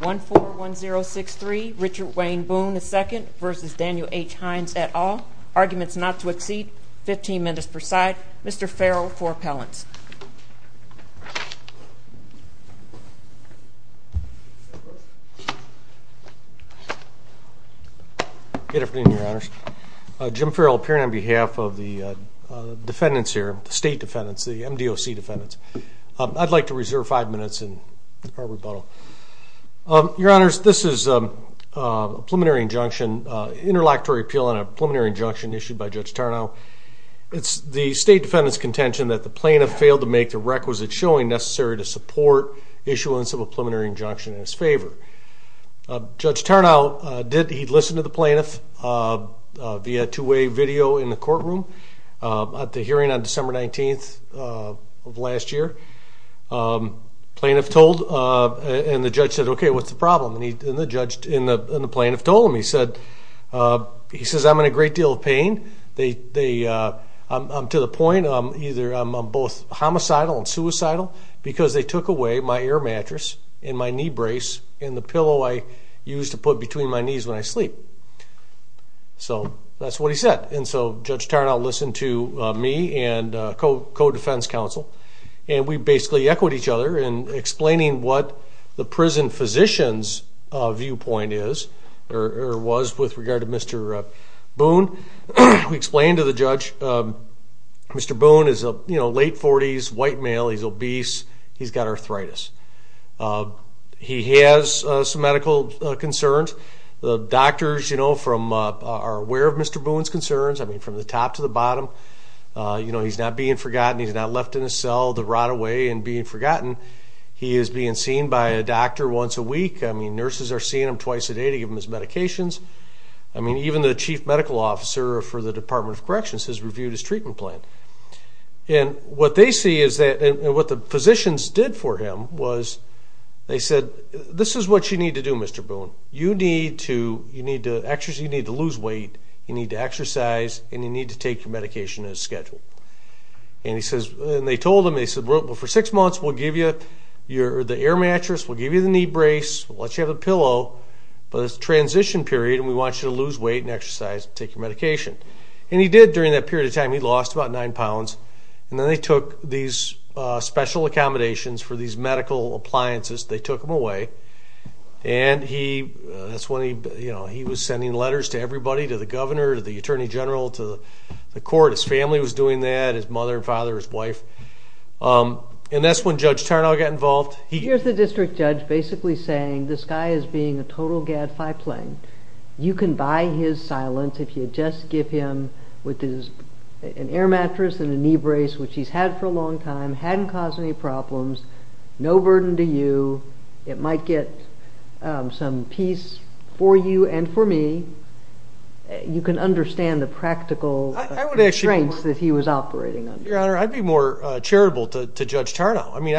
141063 Richard Wayne Boone II v. Daniel H. Heyns et al. Arguments not to exceed 15 minutes per side. Mr. Farrell for appellants. Good afternoon, Your Honors. Jim Farrell appearing on behalf of the defendants here, the state defendants, the MDOC defendants. I'd like to reserve five minutes in our rebuttal. Your Honors, this is a preliminary injunction, interlocutory appeal on a preliminary injunction issued by Judge Tarnow. It's the state defendant's contention that the plaintiff failed to make the requisite showing necessary to support issuance of a preliminary injunction in his favor. Judge Tarnow, he'd listened to the plaintiff via two-way video in the courtroom at the hearing on December 19th of last year. Plaintiff told, and the judge said, okay, what's the problem? And the plaintiff told him, he said, I'm in a great deal of pain. I'm to the point, I'm either, I'm both homicidal and suicidal because they took away my air mattress and my knee brace and the pillow I use to put between my knees when I sleep. So that's what he said. And so Judge Tarnow listened to me and co-defense counsel, and we basically echoed each other in explaining what the prison physician's viewpoint is, or was with regard to Mr. Boone. We explained to the judge, Mr. Boone is a late 40s, white male, he's obese, he's got arthritis. He has some medical concerns. The doctors, you know, are aware of Mr. Boone's concerns. I mean, from the top to the bottom, you know, he's not being forgotten. He's not left in a cell to rot away and being forgotten. He is being seen by a doctor once a week. I mean, nurses are seeing him twice a day to give him his medications. I mean, even the chief medical officer for the Department of Corrections has reviewed his treatment plan. And what they see is that, and what the physicians did for him was they said, this is what you need to do, Mr. Boone. You need to lose weight, you need to exercise, and you need to take your medication as scheduled. And they told him, they said, well, for six months we'll give you the air mattress, we'll give you the knee brace, we'll let you have a pillow, but it's a transition period and we want you to lose weight and exercise and take your medication. And he did during that period of time. He lost about nine pounds. And then they took these special accommodations for these medical appliances, they took them away. And he, that's when he, you know, he was sending letters to everybody, to the governor, to the attorney general, to the court. His family was doing that, his mother and father, his wife. And that's when Judge Tarnow got involved. Here's the district judge basically saying this guy is being a total gadfly playing. You can buy his silence if you just give him an air mattress and a knee brace, which he's had for a long time, hadn't caused any problems, no burden to you. It might get some peace for you and for me. You can understand the practical constraints that he was operating under. Your Honor, I'd be more charitable to Judge Tarnow. I mean,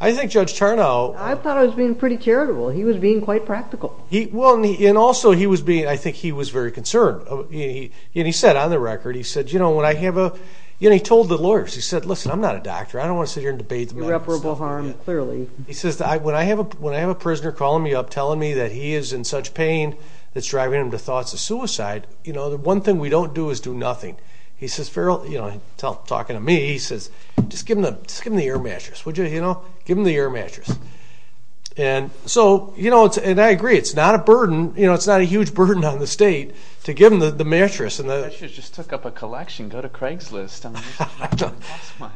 I think Judge Tarnow... I thought I was being pretty charitable. He was being quite practical. Well, and also he was being, I think he was very concerned. And he said, on the record, he said, you know, when I have a... You know, he told the lawyers, he said, listen, I'm not a doctor. I don't want to sit here and debate the medical system. Irreparable harm, clearly. He says, when I have a prisoner calling me up telling me that he is in such pain that's driving him to thoughts of suicide, you know, the one thing we don't do is do nothing. He says, you know, talking to me, he says, just give him the air mattress, would you, you know? Give him the air mattress. And so, you know, and I agree, it's not a burden. You know, it's not a huge burden on the state to give him the mattress. The mattress just took up a collection. Go to Craigslist.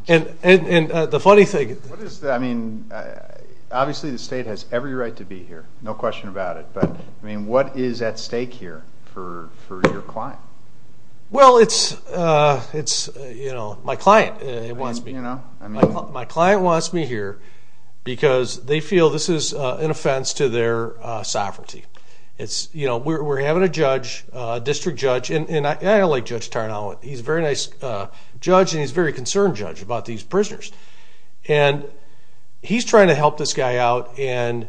And the funny thing... I mean, obviously the state has every right to be here, no question about it. But, I mean, what is at stake here for your client? Well, it's, you know, my client wants me here. Because they feel this is an offense to their sovereignty. It's, you know, we're having a judge, a district judge, and I like Judge Tarnow. He's a very nice judge, and he's a very concerned judge about these prisoners. And he's trying to help this guy out, and,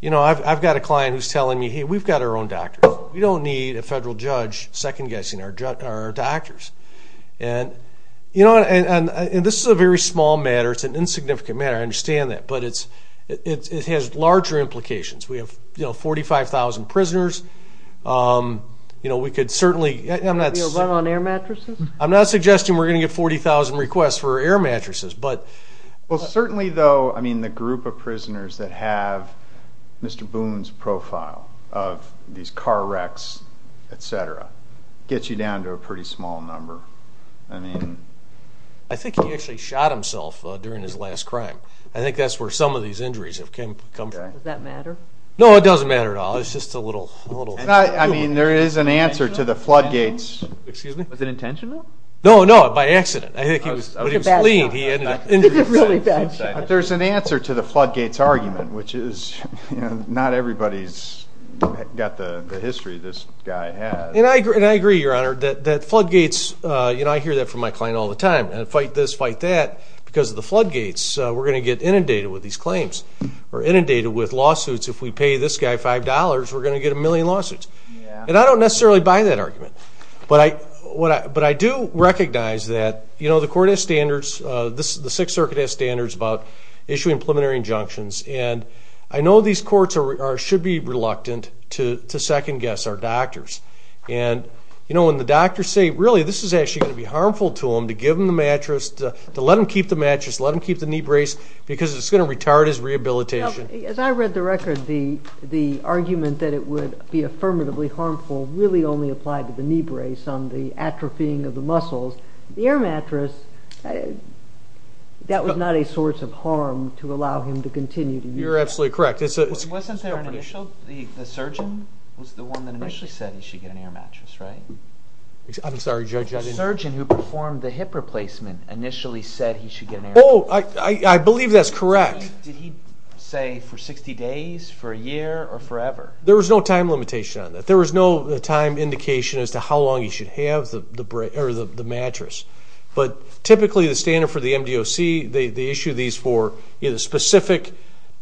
you know, I've got a client who's telling me, hey, we've got our own doctors. We don't need a federal judge second-guessing our doctors. And, you know, and this is a very small matter. It's an insignificant matter. I understand that. But it has larger implications. We have, you know, 45,000 prisoners. You know, we could certainly... Run on air mattresses? I'm not suggesting we're going to get 40,000 requests for air mattresses. Well, certainly, though, I mean, the group of prisoners that have Mr. Boone's profile of these car wrecks, et cetera, gets you down to a pretty small number. I mean... I think he actually shot himself during his last crime. I think that's where some of these injuries have come from. Does that matter? No, it doesn't matter at all. It's just a little... I mean, there is an answer to the Floodgates... Excuse me? No, no, by accident. I think he was... It was a bad shot. It was a really bad shot. But there's an answer to the Floodgates argument, which is, you know, not everybody's got the history this guy has. And I agree, Your Honor, that Floodgates... You know, I hear that from my client all the time. Fight this, fight that. Because of the Floodgates, we're going to get inundated with these claims. We're inundated with lawsuits. If we pay this guy $5, we're going to get a million lawsuits. And I don't necessarily buy that argument. But I do recognize that, you know, the court has standards. The Sixth Circuit has standards about issuing preliminary injunctions. And I know these courts should be reluctant to second-guess our doctors. And, you know, when the doctors say, really this is actually going to be harmful to him to give him the mattress, to let him keep the mattress, let him keep the knee brace, because it's going to retard his rehabilitation. As I read the record, the argument that it would be affirmatively harmful really only applied to the knee brace on the atrophying of the muscles. The air mattress, that was not a source of harm to allow him to continue to use it. You're absolutely correct. Wasn't there an initial? The surgeon was the one that initially said he should get an air mattress, right? I'm sorry, Judge, I didn't hear. The surgeon who performed the hip replacement initially said he should get an air mattress. Oh, I believe that's correct. Did he say for 60 days, for a year, or forever? There was no time limitation on that. There was no time indication as to how long he should have the mattress. But typically the standard for the MDOC, they issue these for either specific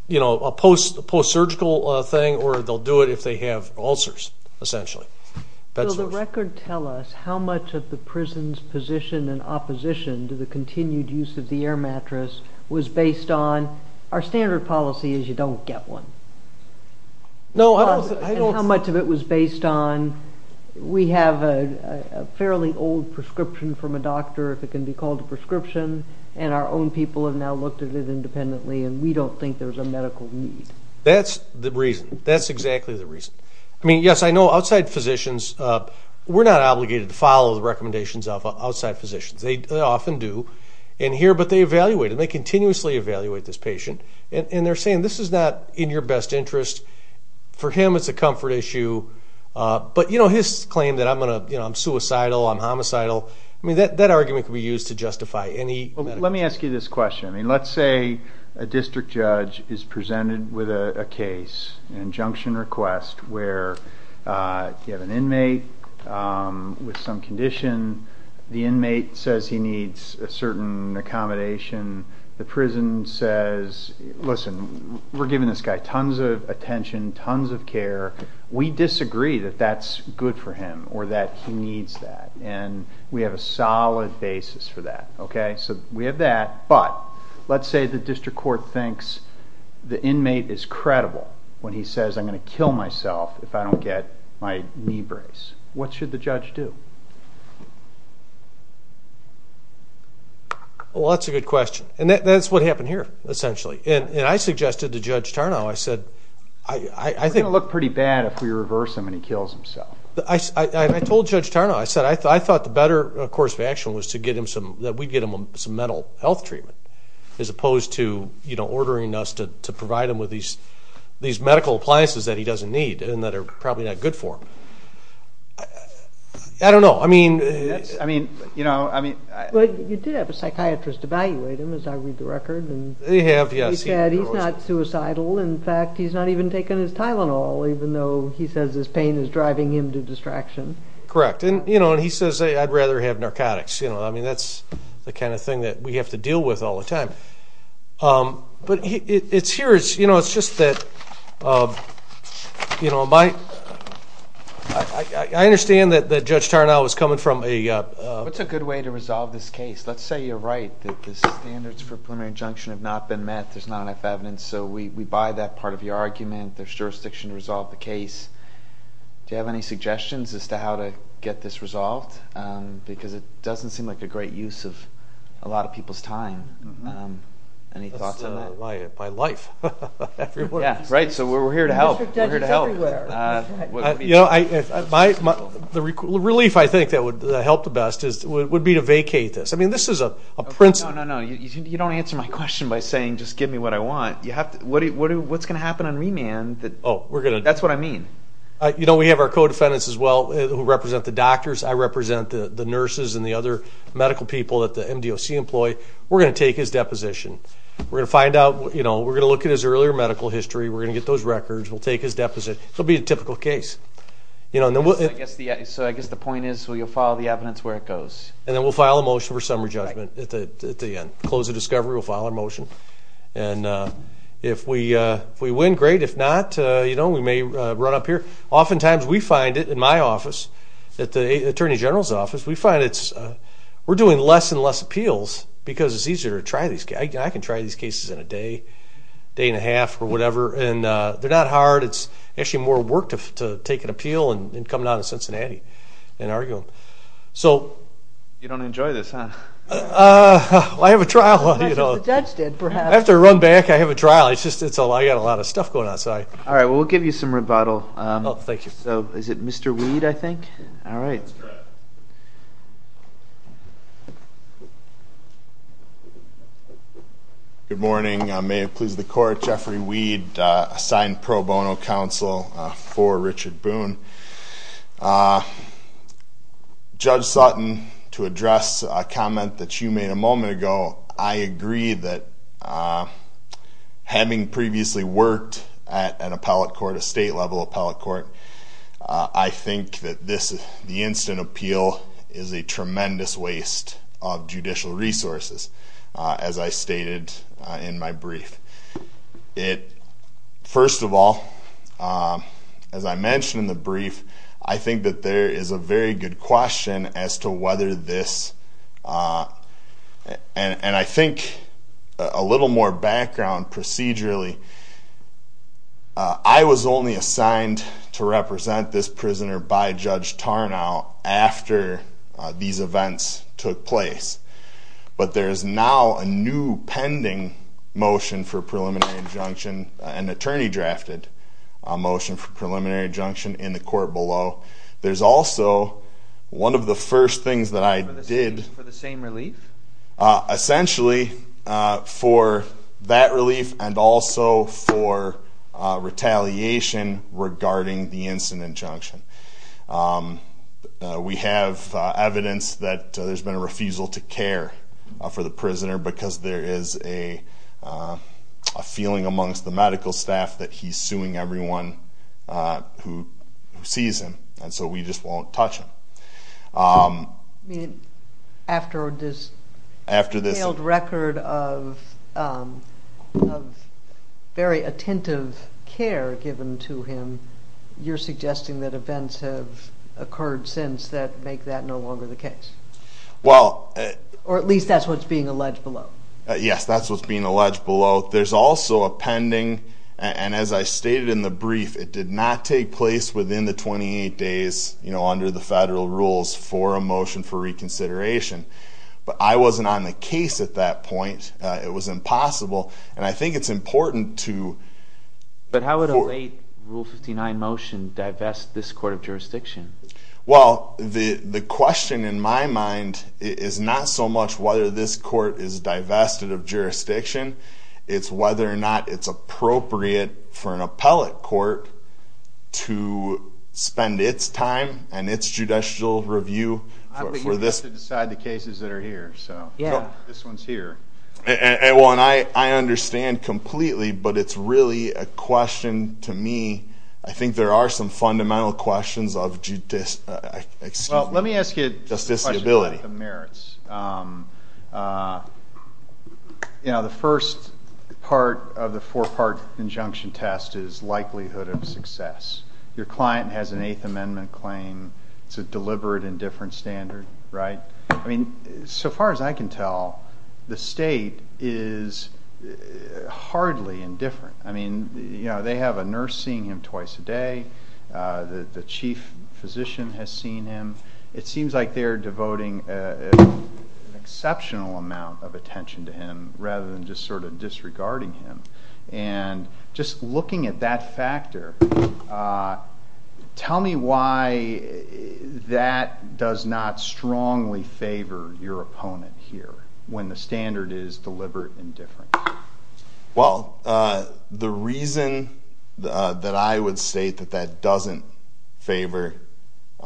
post-surgical thing or they'll do it if they have ulcers, essentially. Will the record tell us how much of the prison's position and opposition to the continued use of the air mattress was based on our standard policy is you don't get one? No, I don't think so. How much of it was based on we have a fairly old prescription from a doctor, if it can be called a prescription, and our own people have now looked at it independently and we don't think there's a medical need? That's the reason. That's exactly the reason. I mean, yes, I know outside physicians, we're not obligated to follow the recommendations of outside physicians. They often do in here, but they evaluate it. They continuously evaluate this patient, and they're saying this is not in your best interest. For him, it's a comfort issue. But his claim that I'm suicidal, I'm homicidal, that argument could be used to justify any medical issue. Let me ask you this question. Let's say a district judge is presented with a case, an injunction request, where you have an inmate with some condition. The inmate says he needs a certain accommodation. The prison says, listen, we're giving this guy tons of attention, tons of care. We disagree that that's good for him or that he needs that, and we have a solid basis for that. So we have that, but let's say the district court thinks the inmate is credible when he says I'm going to kill myself if I don't get my knee brace. What should the judge do? Well, that's a good question. And that's what happened here, essentially. And I suggested to Judge Tarnow, I said, I think. He's going to look pretty bad if we reverse him and he kills himself. I told Judge Tarnow, I said, I thought the better course of action was to get him some mental health treatment as opposed to ordering us to provide him with these medical appliances that he doesn't need and that are probably not good for him. I don't know. You did have a psychiatrist evaluate him, as I read the record. They have, yes. He said he's not suicidal. In fact, he's not even taking his Tylenol, even though he says his pain is driving him to distraction. Correct. And he says, I'd rather have narcotics. That's the kind of thing that we have to deal with all the time. But it's here. It's just that I understand that Judge Tarnow was coming from a... What's a good way to resolve this case? Let's say you're right, that the standards for preliminary injunction have not been met. There's not enough evidence. So we buy that part of your argument. There's jurisdiction to resolve the case. Do you have any suggestions as to how to get this resolved? Because it doesn't seem like a great use of a lot of people's time. Any thoughts on that? That's my life. Right, so we're here to help. The district judge is everywhere. The relief I think that would help the best would be to vacate this. I mean, this is a principle. No, no, no. You don't answer my question by saying just give me what I want. What's going to happen on remand? That's what I mean. You know, we have our co-defendants as well who represent the doctors. I represent the nurses and the other medical people that the MDOC employ. We're going to take his deposition. We're going to find out, you know, we're going to look at his earlier medical history. We're going to get those records. We'll take his deposition. It'll be a typical case. So I guess the point is we'll follow the evidence where it goes. And then we'll file a motion for summary judgment at the end. Close the discovery. We'll file a motion. And if we win, great. If not, you know, we may run up here. Oftentimes we find it in my office, at the Attorney General's office, we find we're doing less and less appeals because it's easier to try these cases. I can try these cases in a day, day and a half or whatever. And they're not hard. It's actually more work to take an appeal and come down to Cincinnati and argue them. You don't enjoy this, huh? Well, I have a trial. That's what the judge did, perhaps. I have to run back. I have a trial. I've got a lot of stuff going on. All right. Well, we'll give you some rebuttal. Oh, thank you. So is it Mr. Weed, I think? All right. Good morning. May it please the Court. Jeffrey Weed, assigned pro bono counsel for Richard Boone. Judge Sutton, to address a comment that you made a moment ago, I agree that having previously worked at an appellate court, a state-level appellate court, I think that the instant appeal is a tremendous waste of judicial resources, as I stated in my brief. First of all, as I mentioned in the brief, I think that there is a very good question as to whether this, and I think a little more background procedurally, I was only assigned to represent this prisoner by Judge Tarnow after these events took place. But there is now a new pending motion for preliminary injunction, an attorney-drafted motion for preliminary injunction in the court below. There's also one of the first things that I did. For the same relief? Essentially for that relief and also for retaliation regarding the instant injunction. We have evidence that there's been a refusal to care for the prisoner because there is a feeling amongst the medical staff that he's suing everyone who sees him, and so we just won't touch him. After this failed record of very attentive care given to him, you're suggesting that events have occurred since that make that no longer the case? Or at least that's what's being alleged below? Yes, that's what's being alleged below. There's also a pending, and as I stated in the brief, it did not take place within the 28 days under the federal rules for a motion for reconsideration. But I wasn't on the case at that point. It was impossible, and I think it's important to... But how would a late Rule 59 motion divest this court of jurisdiction? Well, the question in my mind is not so much whether this court is divested of jurisdiction. It's whether or not it's appropriate for an appellate court to spend its time and its judicial review for this. I think you have to decide the cases that are here, so this one's here. Well, and I understand completely, but it's really a question to me. I think there are some fundamental questions of justiceability. Well, let me ask you a question about the merits. The first part of the four-part injunction test is likelihood of success. Your client has an Eighth Amendment claim. It's a deliberate and different standard, right? I mean, so far as I can tell, the state is hardly indifferent. I mean, they have a nurse seeing him twice a day. The chief physician has seen him. It seems like they're devoting an exceptional amount of attention to him rather than just sort of disregarding him. And just looking at that factor, tell me why that does not strongly favor your opponent here when the standard is deliberate and different. Well, the reason that I would state that that doesn't favor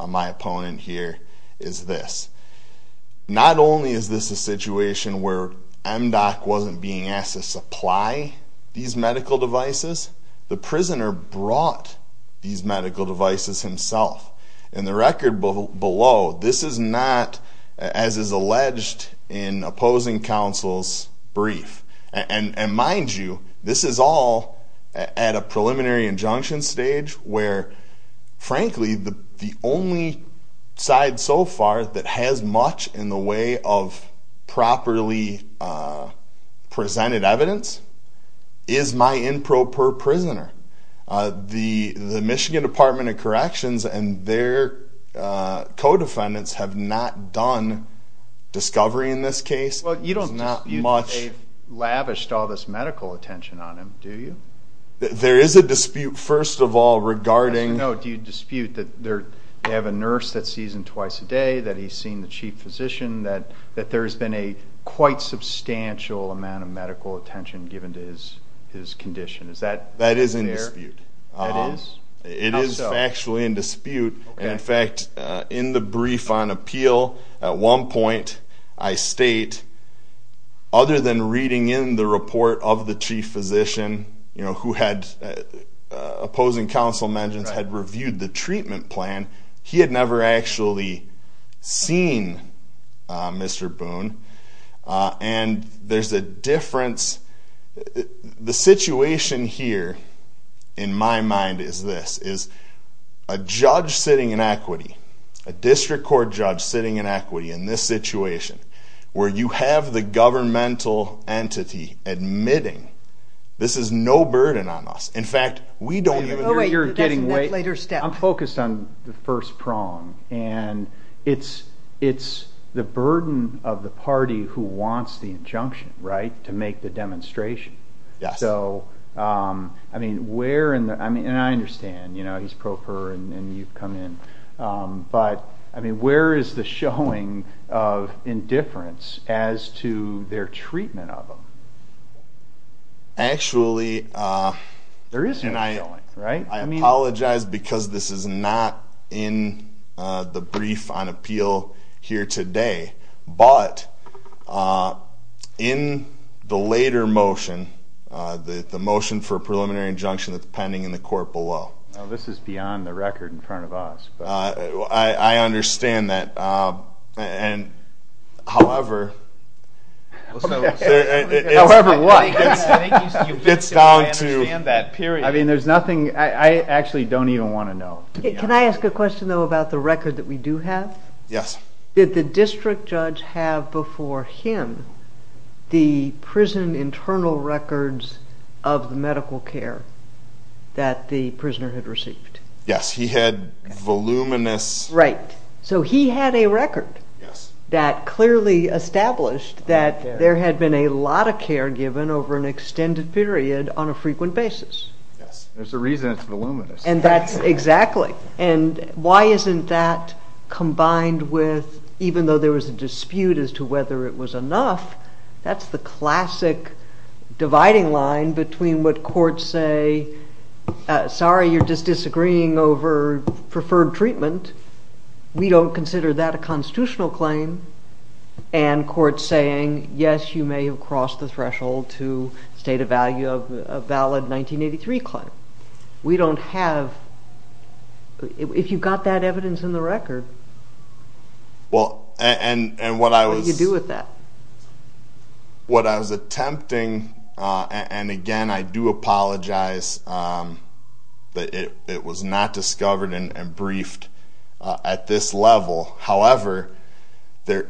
my opponent here is this. Not only is this a situation where MDOC wasn't being asked to supply these medical devices, the prisoner brought these medical devices himself. In the record below, this is not, as is alleged in opposing counsel's brief. And mind you, this is all at a preliminary injunction stage where, frankly, the only side so far that has much in the way of properly presented evidence is my improper prisoner. The Michigan Department of Corrections and their co-defendants have not done discovery in this case. There's not much. Well, you don't dispute that they've lavished all this medical attention on him, do you? There is a dispute, first of all, regarding... As you know, do you dispute that they have a nurse that sees him twice a day, that he's seen the chief physician, that there's been a quite substantial amount of medical attention given to his condition? Is that fair? That is in dispute. It is? It is factually in dispute. In fact, in the brief on appeal, at one point I state, other than reading in the report of the chief physician who had opposing counsel mentions had reviewed the treatment plan, he had never actually seen Mr. Boone. And there's a difference. The situation here, in my mind, is this, is a judge sitting in equity, a district court judge sitting in equity in this situation, where you have the governmental entity admitting this is no burden on us. In fact, we don't even... You're getting way... That's a later step. I'm focused on the first prong. And it's the burden of the party who wants the injunction, right, to make the demonstration. Yes. So, I mean, where in the... And I understand, you know, he's pro per, and you've come in. But, I mean, where is the showing of indifference as to their treatment of him? Actually... There is no showing, right? I apologize because this is not in the brief on appeal here today. But in the later motion, the motion for a preliminary injunction that's pending in the court below... This is beyond the record in front of us. I understand that. And, however... However what? It's down to... I understand that, period. I mean, there's nothing... I actually don't even want to know, to be honest. Can I ask a question, though, about the record that we do have? Yes. Did the district judge have before him the prison internal records of the medical care that the prisoner had received? Yes. He had voluminous... Right. So he had a record that clearly established that there had been a lot of care given over an extended period on a frequent basis. Yes. There's a reason it's voluminous. And that's... Exactly. And why isn't that combined with, even though there was a dispute as to whether it was enough, that's the classic dividing line between what courts say, sorry, you're just disagreeing over preferred treatment. We don't consider that a constitutional claim. And courts saying, yes, you may have crossed the threshold to state a value of a valid 1983 claim. We don't have... If you've got that evidence in the record... Well, and what I was... What do you do with that? What I was attempting, and again, I do apologize, but it was not discovered and briefed at this level. However, there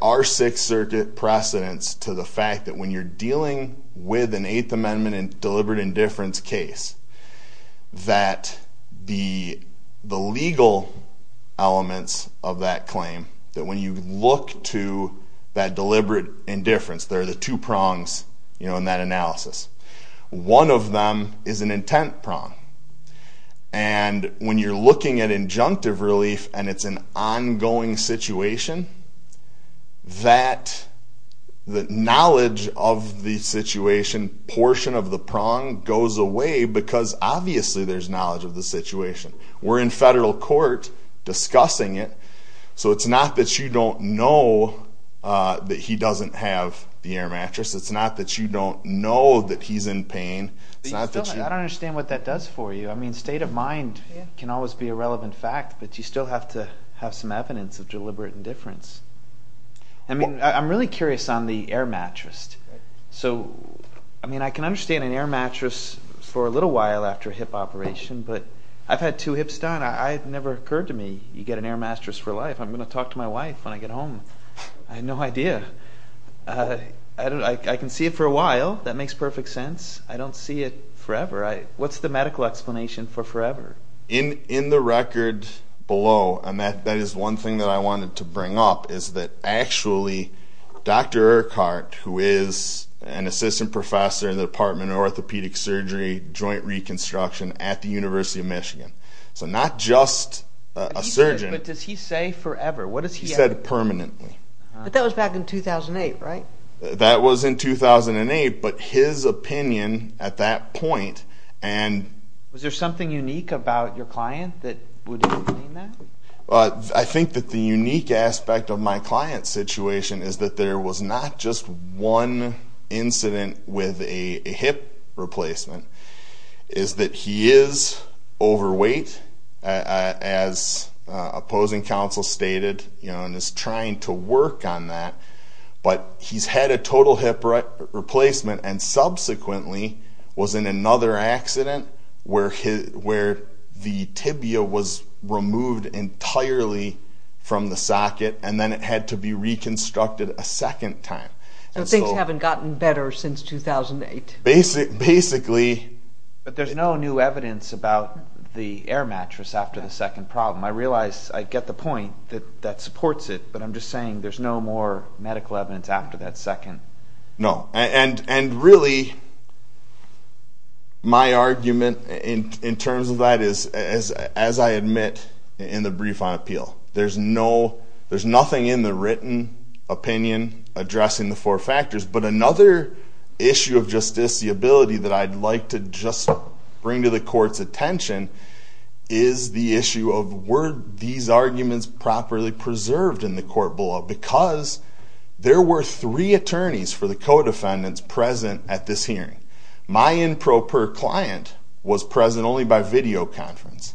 are six circuit precedents to the fact that when you're dealing with an Eighth Amendment and deliberate indifference case, that the legal elements of that claim, that when you look to that deliberate indifference, there are the two prongs in that analysis. One of them is an intent prong. And when you're looking at injunctive relief and it's an ongoing situation, that knowledge of the situation portion of the prong goes away because obviously there's knowledge of the situation. We're in federal court discussing it, so it's not that you don't know that he doesn't have the air mattress. It's not that you don't know that he's in pain. I don't understand what that does for you. I mean, state of mind can always be a relevant fact, but you still have to have some evidence of deliberate indifference. I mean, I'm really curious on the air mattress. So, I mean, I can understand an air mattress for a little while after a hip operation, but I've had two hips done. It never occurred to me you get an air mattress for life. I'm going to talk to my wife when I get home. I had no idea. I can see it for a while. That makes perfect sense. I don't see it forever. What's the medical explanation for forever? In the record below, and that is one thing that I wanted to bring up, is that actually Dr. Urquhart, who is an assistant professor in the department of orthopedic surgery, joint reconstruction at the University of Michigan, so not just a surgeon. But does he say forever? He said permanently. But that was back in 2008, right? That was in 2008. But his opinion at that point and... Was there something unique about your client that would explain that? I think that the unique aspect of my client's situation is that there was not just one incident with a hip replacement. It's that he is overweight, as opposing counsel stated, and is trying to work on that. But he's had a total hip replacement and subsequently was in another accident where the tibia was removed entirely from the socket and then it had to be reconstructed a second time. So things haven't gotten better since 2008. Basically... But there's no new evidence about the air mattress after the second problem. I realize I get the point that that supports it, but I'm just saying there's no more medical evidence after that second. No. And really, my argument in terms of that is, as I admit in the brief on appeal, there's nothing in the written opinion addressing the four factors. But another issue of justiciability that I'd like to just bring to the court's attention is the issue of were these arguments properly preserved in the court below. Because there were three attorneys for the co-defendants present at this hearing. My improper client was present only by video conference.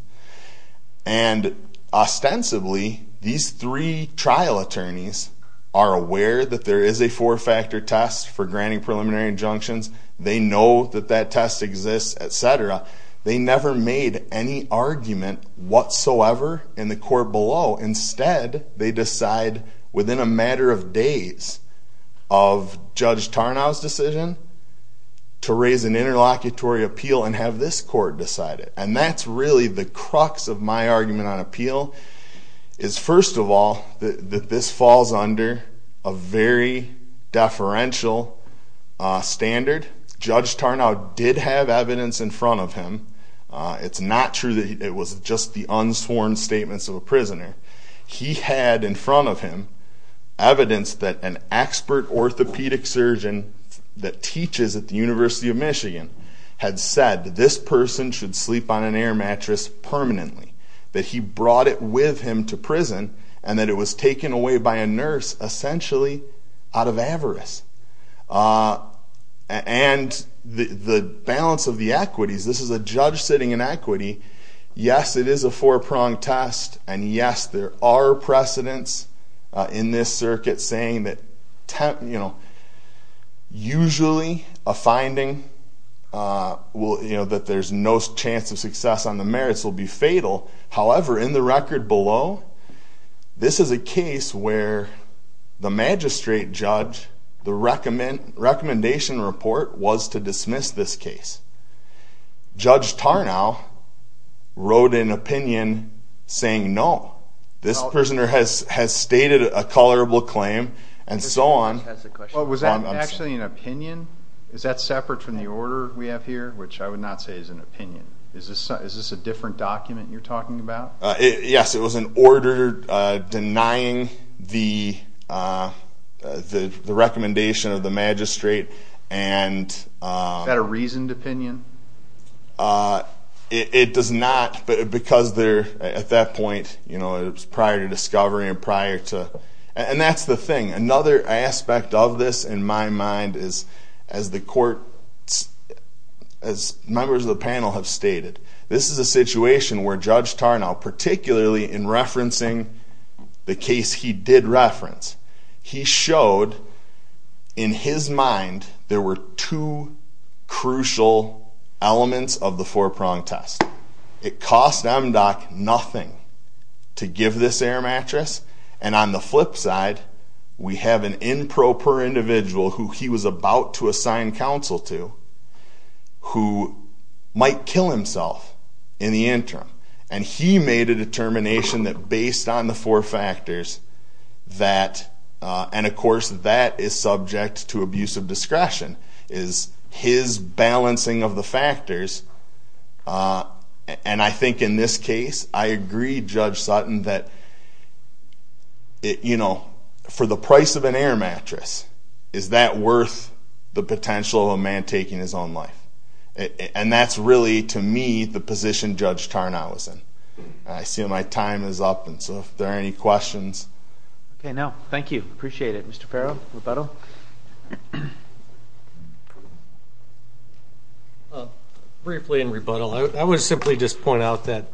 And ostensibly, these three trial attorneys are aware that there is a four-factor test for granting preliminary injunctions. They know that that test exists, etc. They never made any argument whatsoever in the court below. Instead, they decide within a matter of days of Judge Tarnow's decision to raise an interlocutory appeal and have this court decide it. And that's really the crux of my argument on appeal. First of all, this falls under a very deferential standard. Judge Tarnow did have evidence in front of him. It's not true that it was just the unsworn statements of a prisoner. He had in front of him evidence that an expert orthopedic surgeon that teaches at the University of Michigan had said that this person should sleep on an air mattress permanently. That he brought it with him to prison and that it was taken away by a nurse essentially out of avarice. And the balance of the equities. This is a judge sitting in equity. Yes, it is a four-pronged test. And yes, there are precedents in this circuit saying that usually a finding that there's no chance of success on the merits will be fatal. However, in the record below, this is a case where the magistrate judge, the recommendation report was to dismiss this case. Judge Tarnow wrote an opinion saying no. This prisoner has stated a tolerable claim and so on. Was that actually an opinion? Is that separate from the order we have here, which I would not say is an opinion. Is this a different document you're talking about? Yes, it was an order denying the recommendation of the magistrate. Is that a reasoned opinion? It does not because at that point it was prior to discovery. And that's the thing. Another aspect of this in my mind is, as members of the panel have stated, this is a situation where Judge Tarnow, particularly in referencing the case he did reference, he showed in his mind there were two crucial elements of the four-pronged test. It cost MDOC nothing to give this air mattress. And on the flip side, we have an improper individual who he was about to assign counsel to who might kill himself in the interim. And he made a determination that based on the four factors that, and of course that is subject to abusive discretion, is his balancing of the factors. And I think in this case I agree, Judge Sutton, that for the price of an air mattress, is that worth the potential of a man taking his own life? And that's really, to me, the position Judge Tarnow is in. I see my time is up, and so if there are any questions. Okay, no, thank you. Appreciate it. Mr. Farrell, rebuttal? Briefly in rebuttal, I would simply just point out that,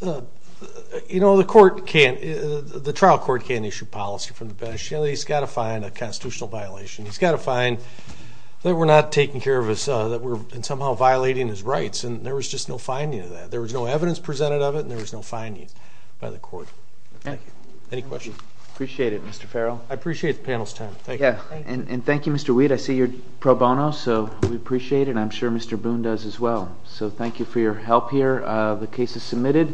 you know, the trial court can't issue policy from the bench. You know, he's got to find a constitutional violation. He's got to find that we're not taking care of his, that we're somehow violating his rights, and there was just no finding of that. There was no evidence presented of it, and there was no findings by the court. Thank you. Any questions? Appreciate it, Mr. Farrell. I appreciate the panel's time. Thank you. And thank you, Mr. Weed. I see you're pro bono, so we appreciate it, and I'm sure Mr. Boone does as well. So thank you for your help here. The case is submitted.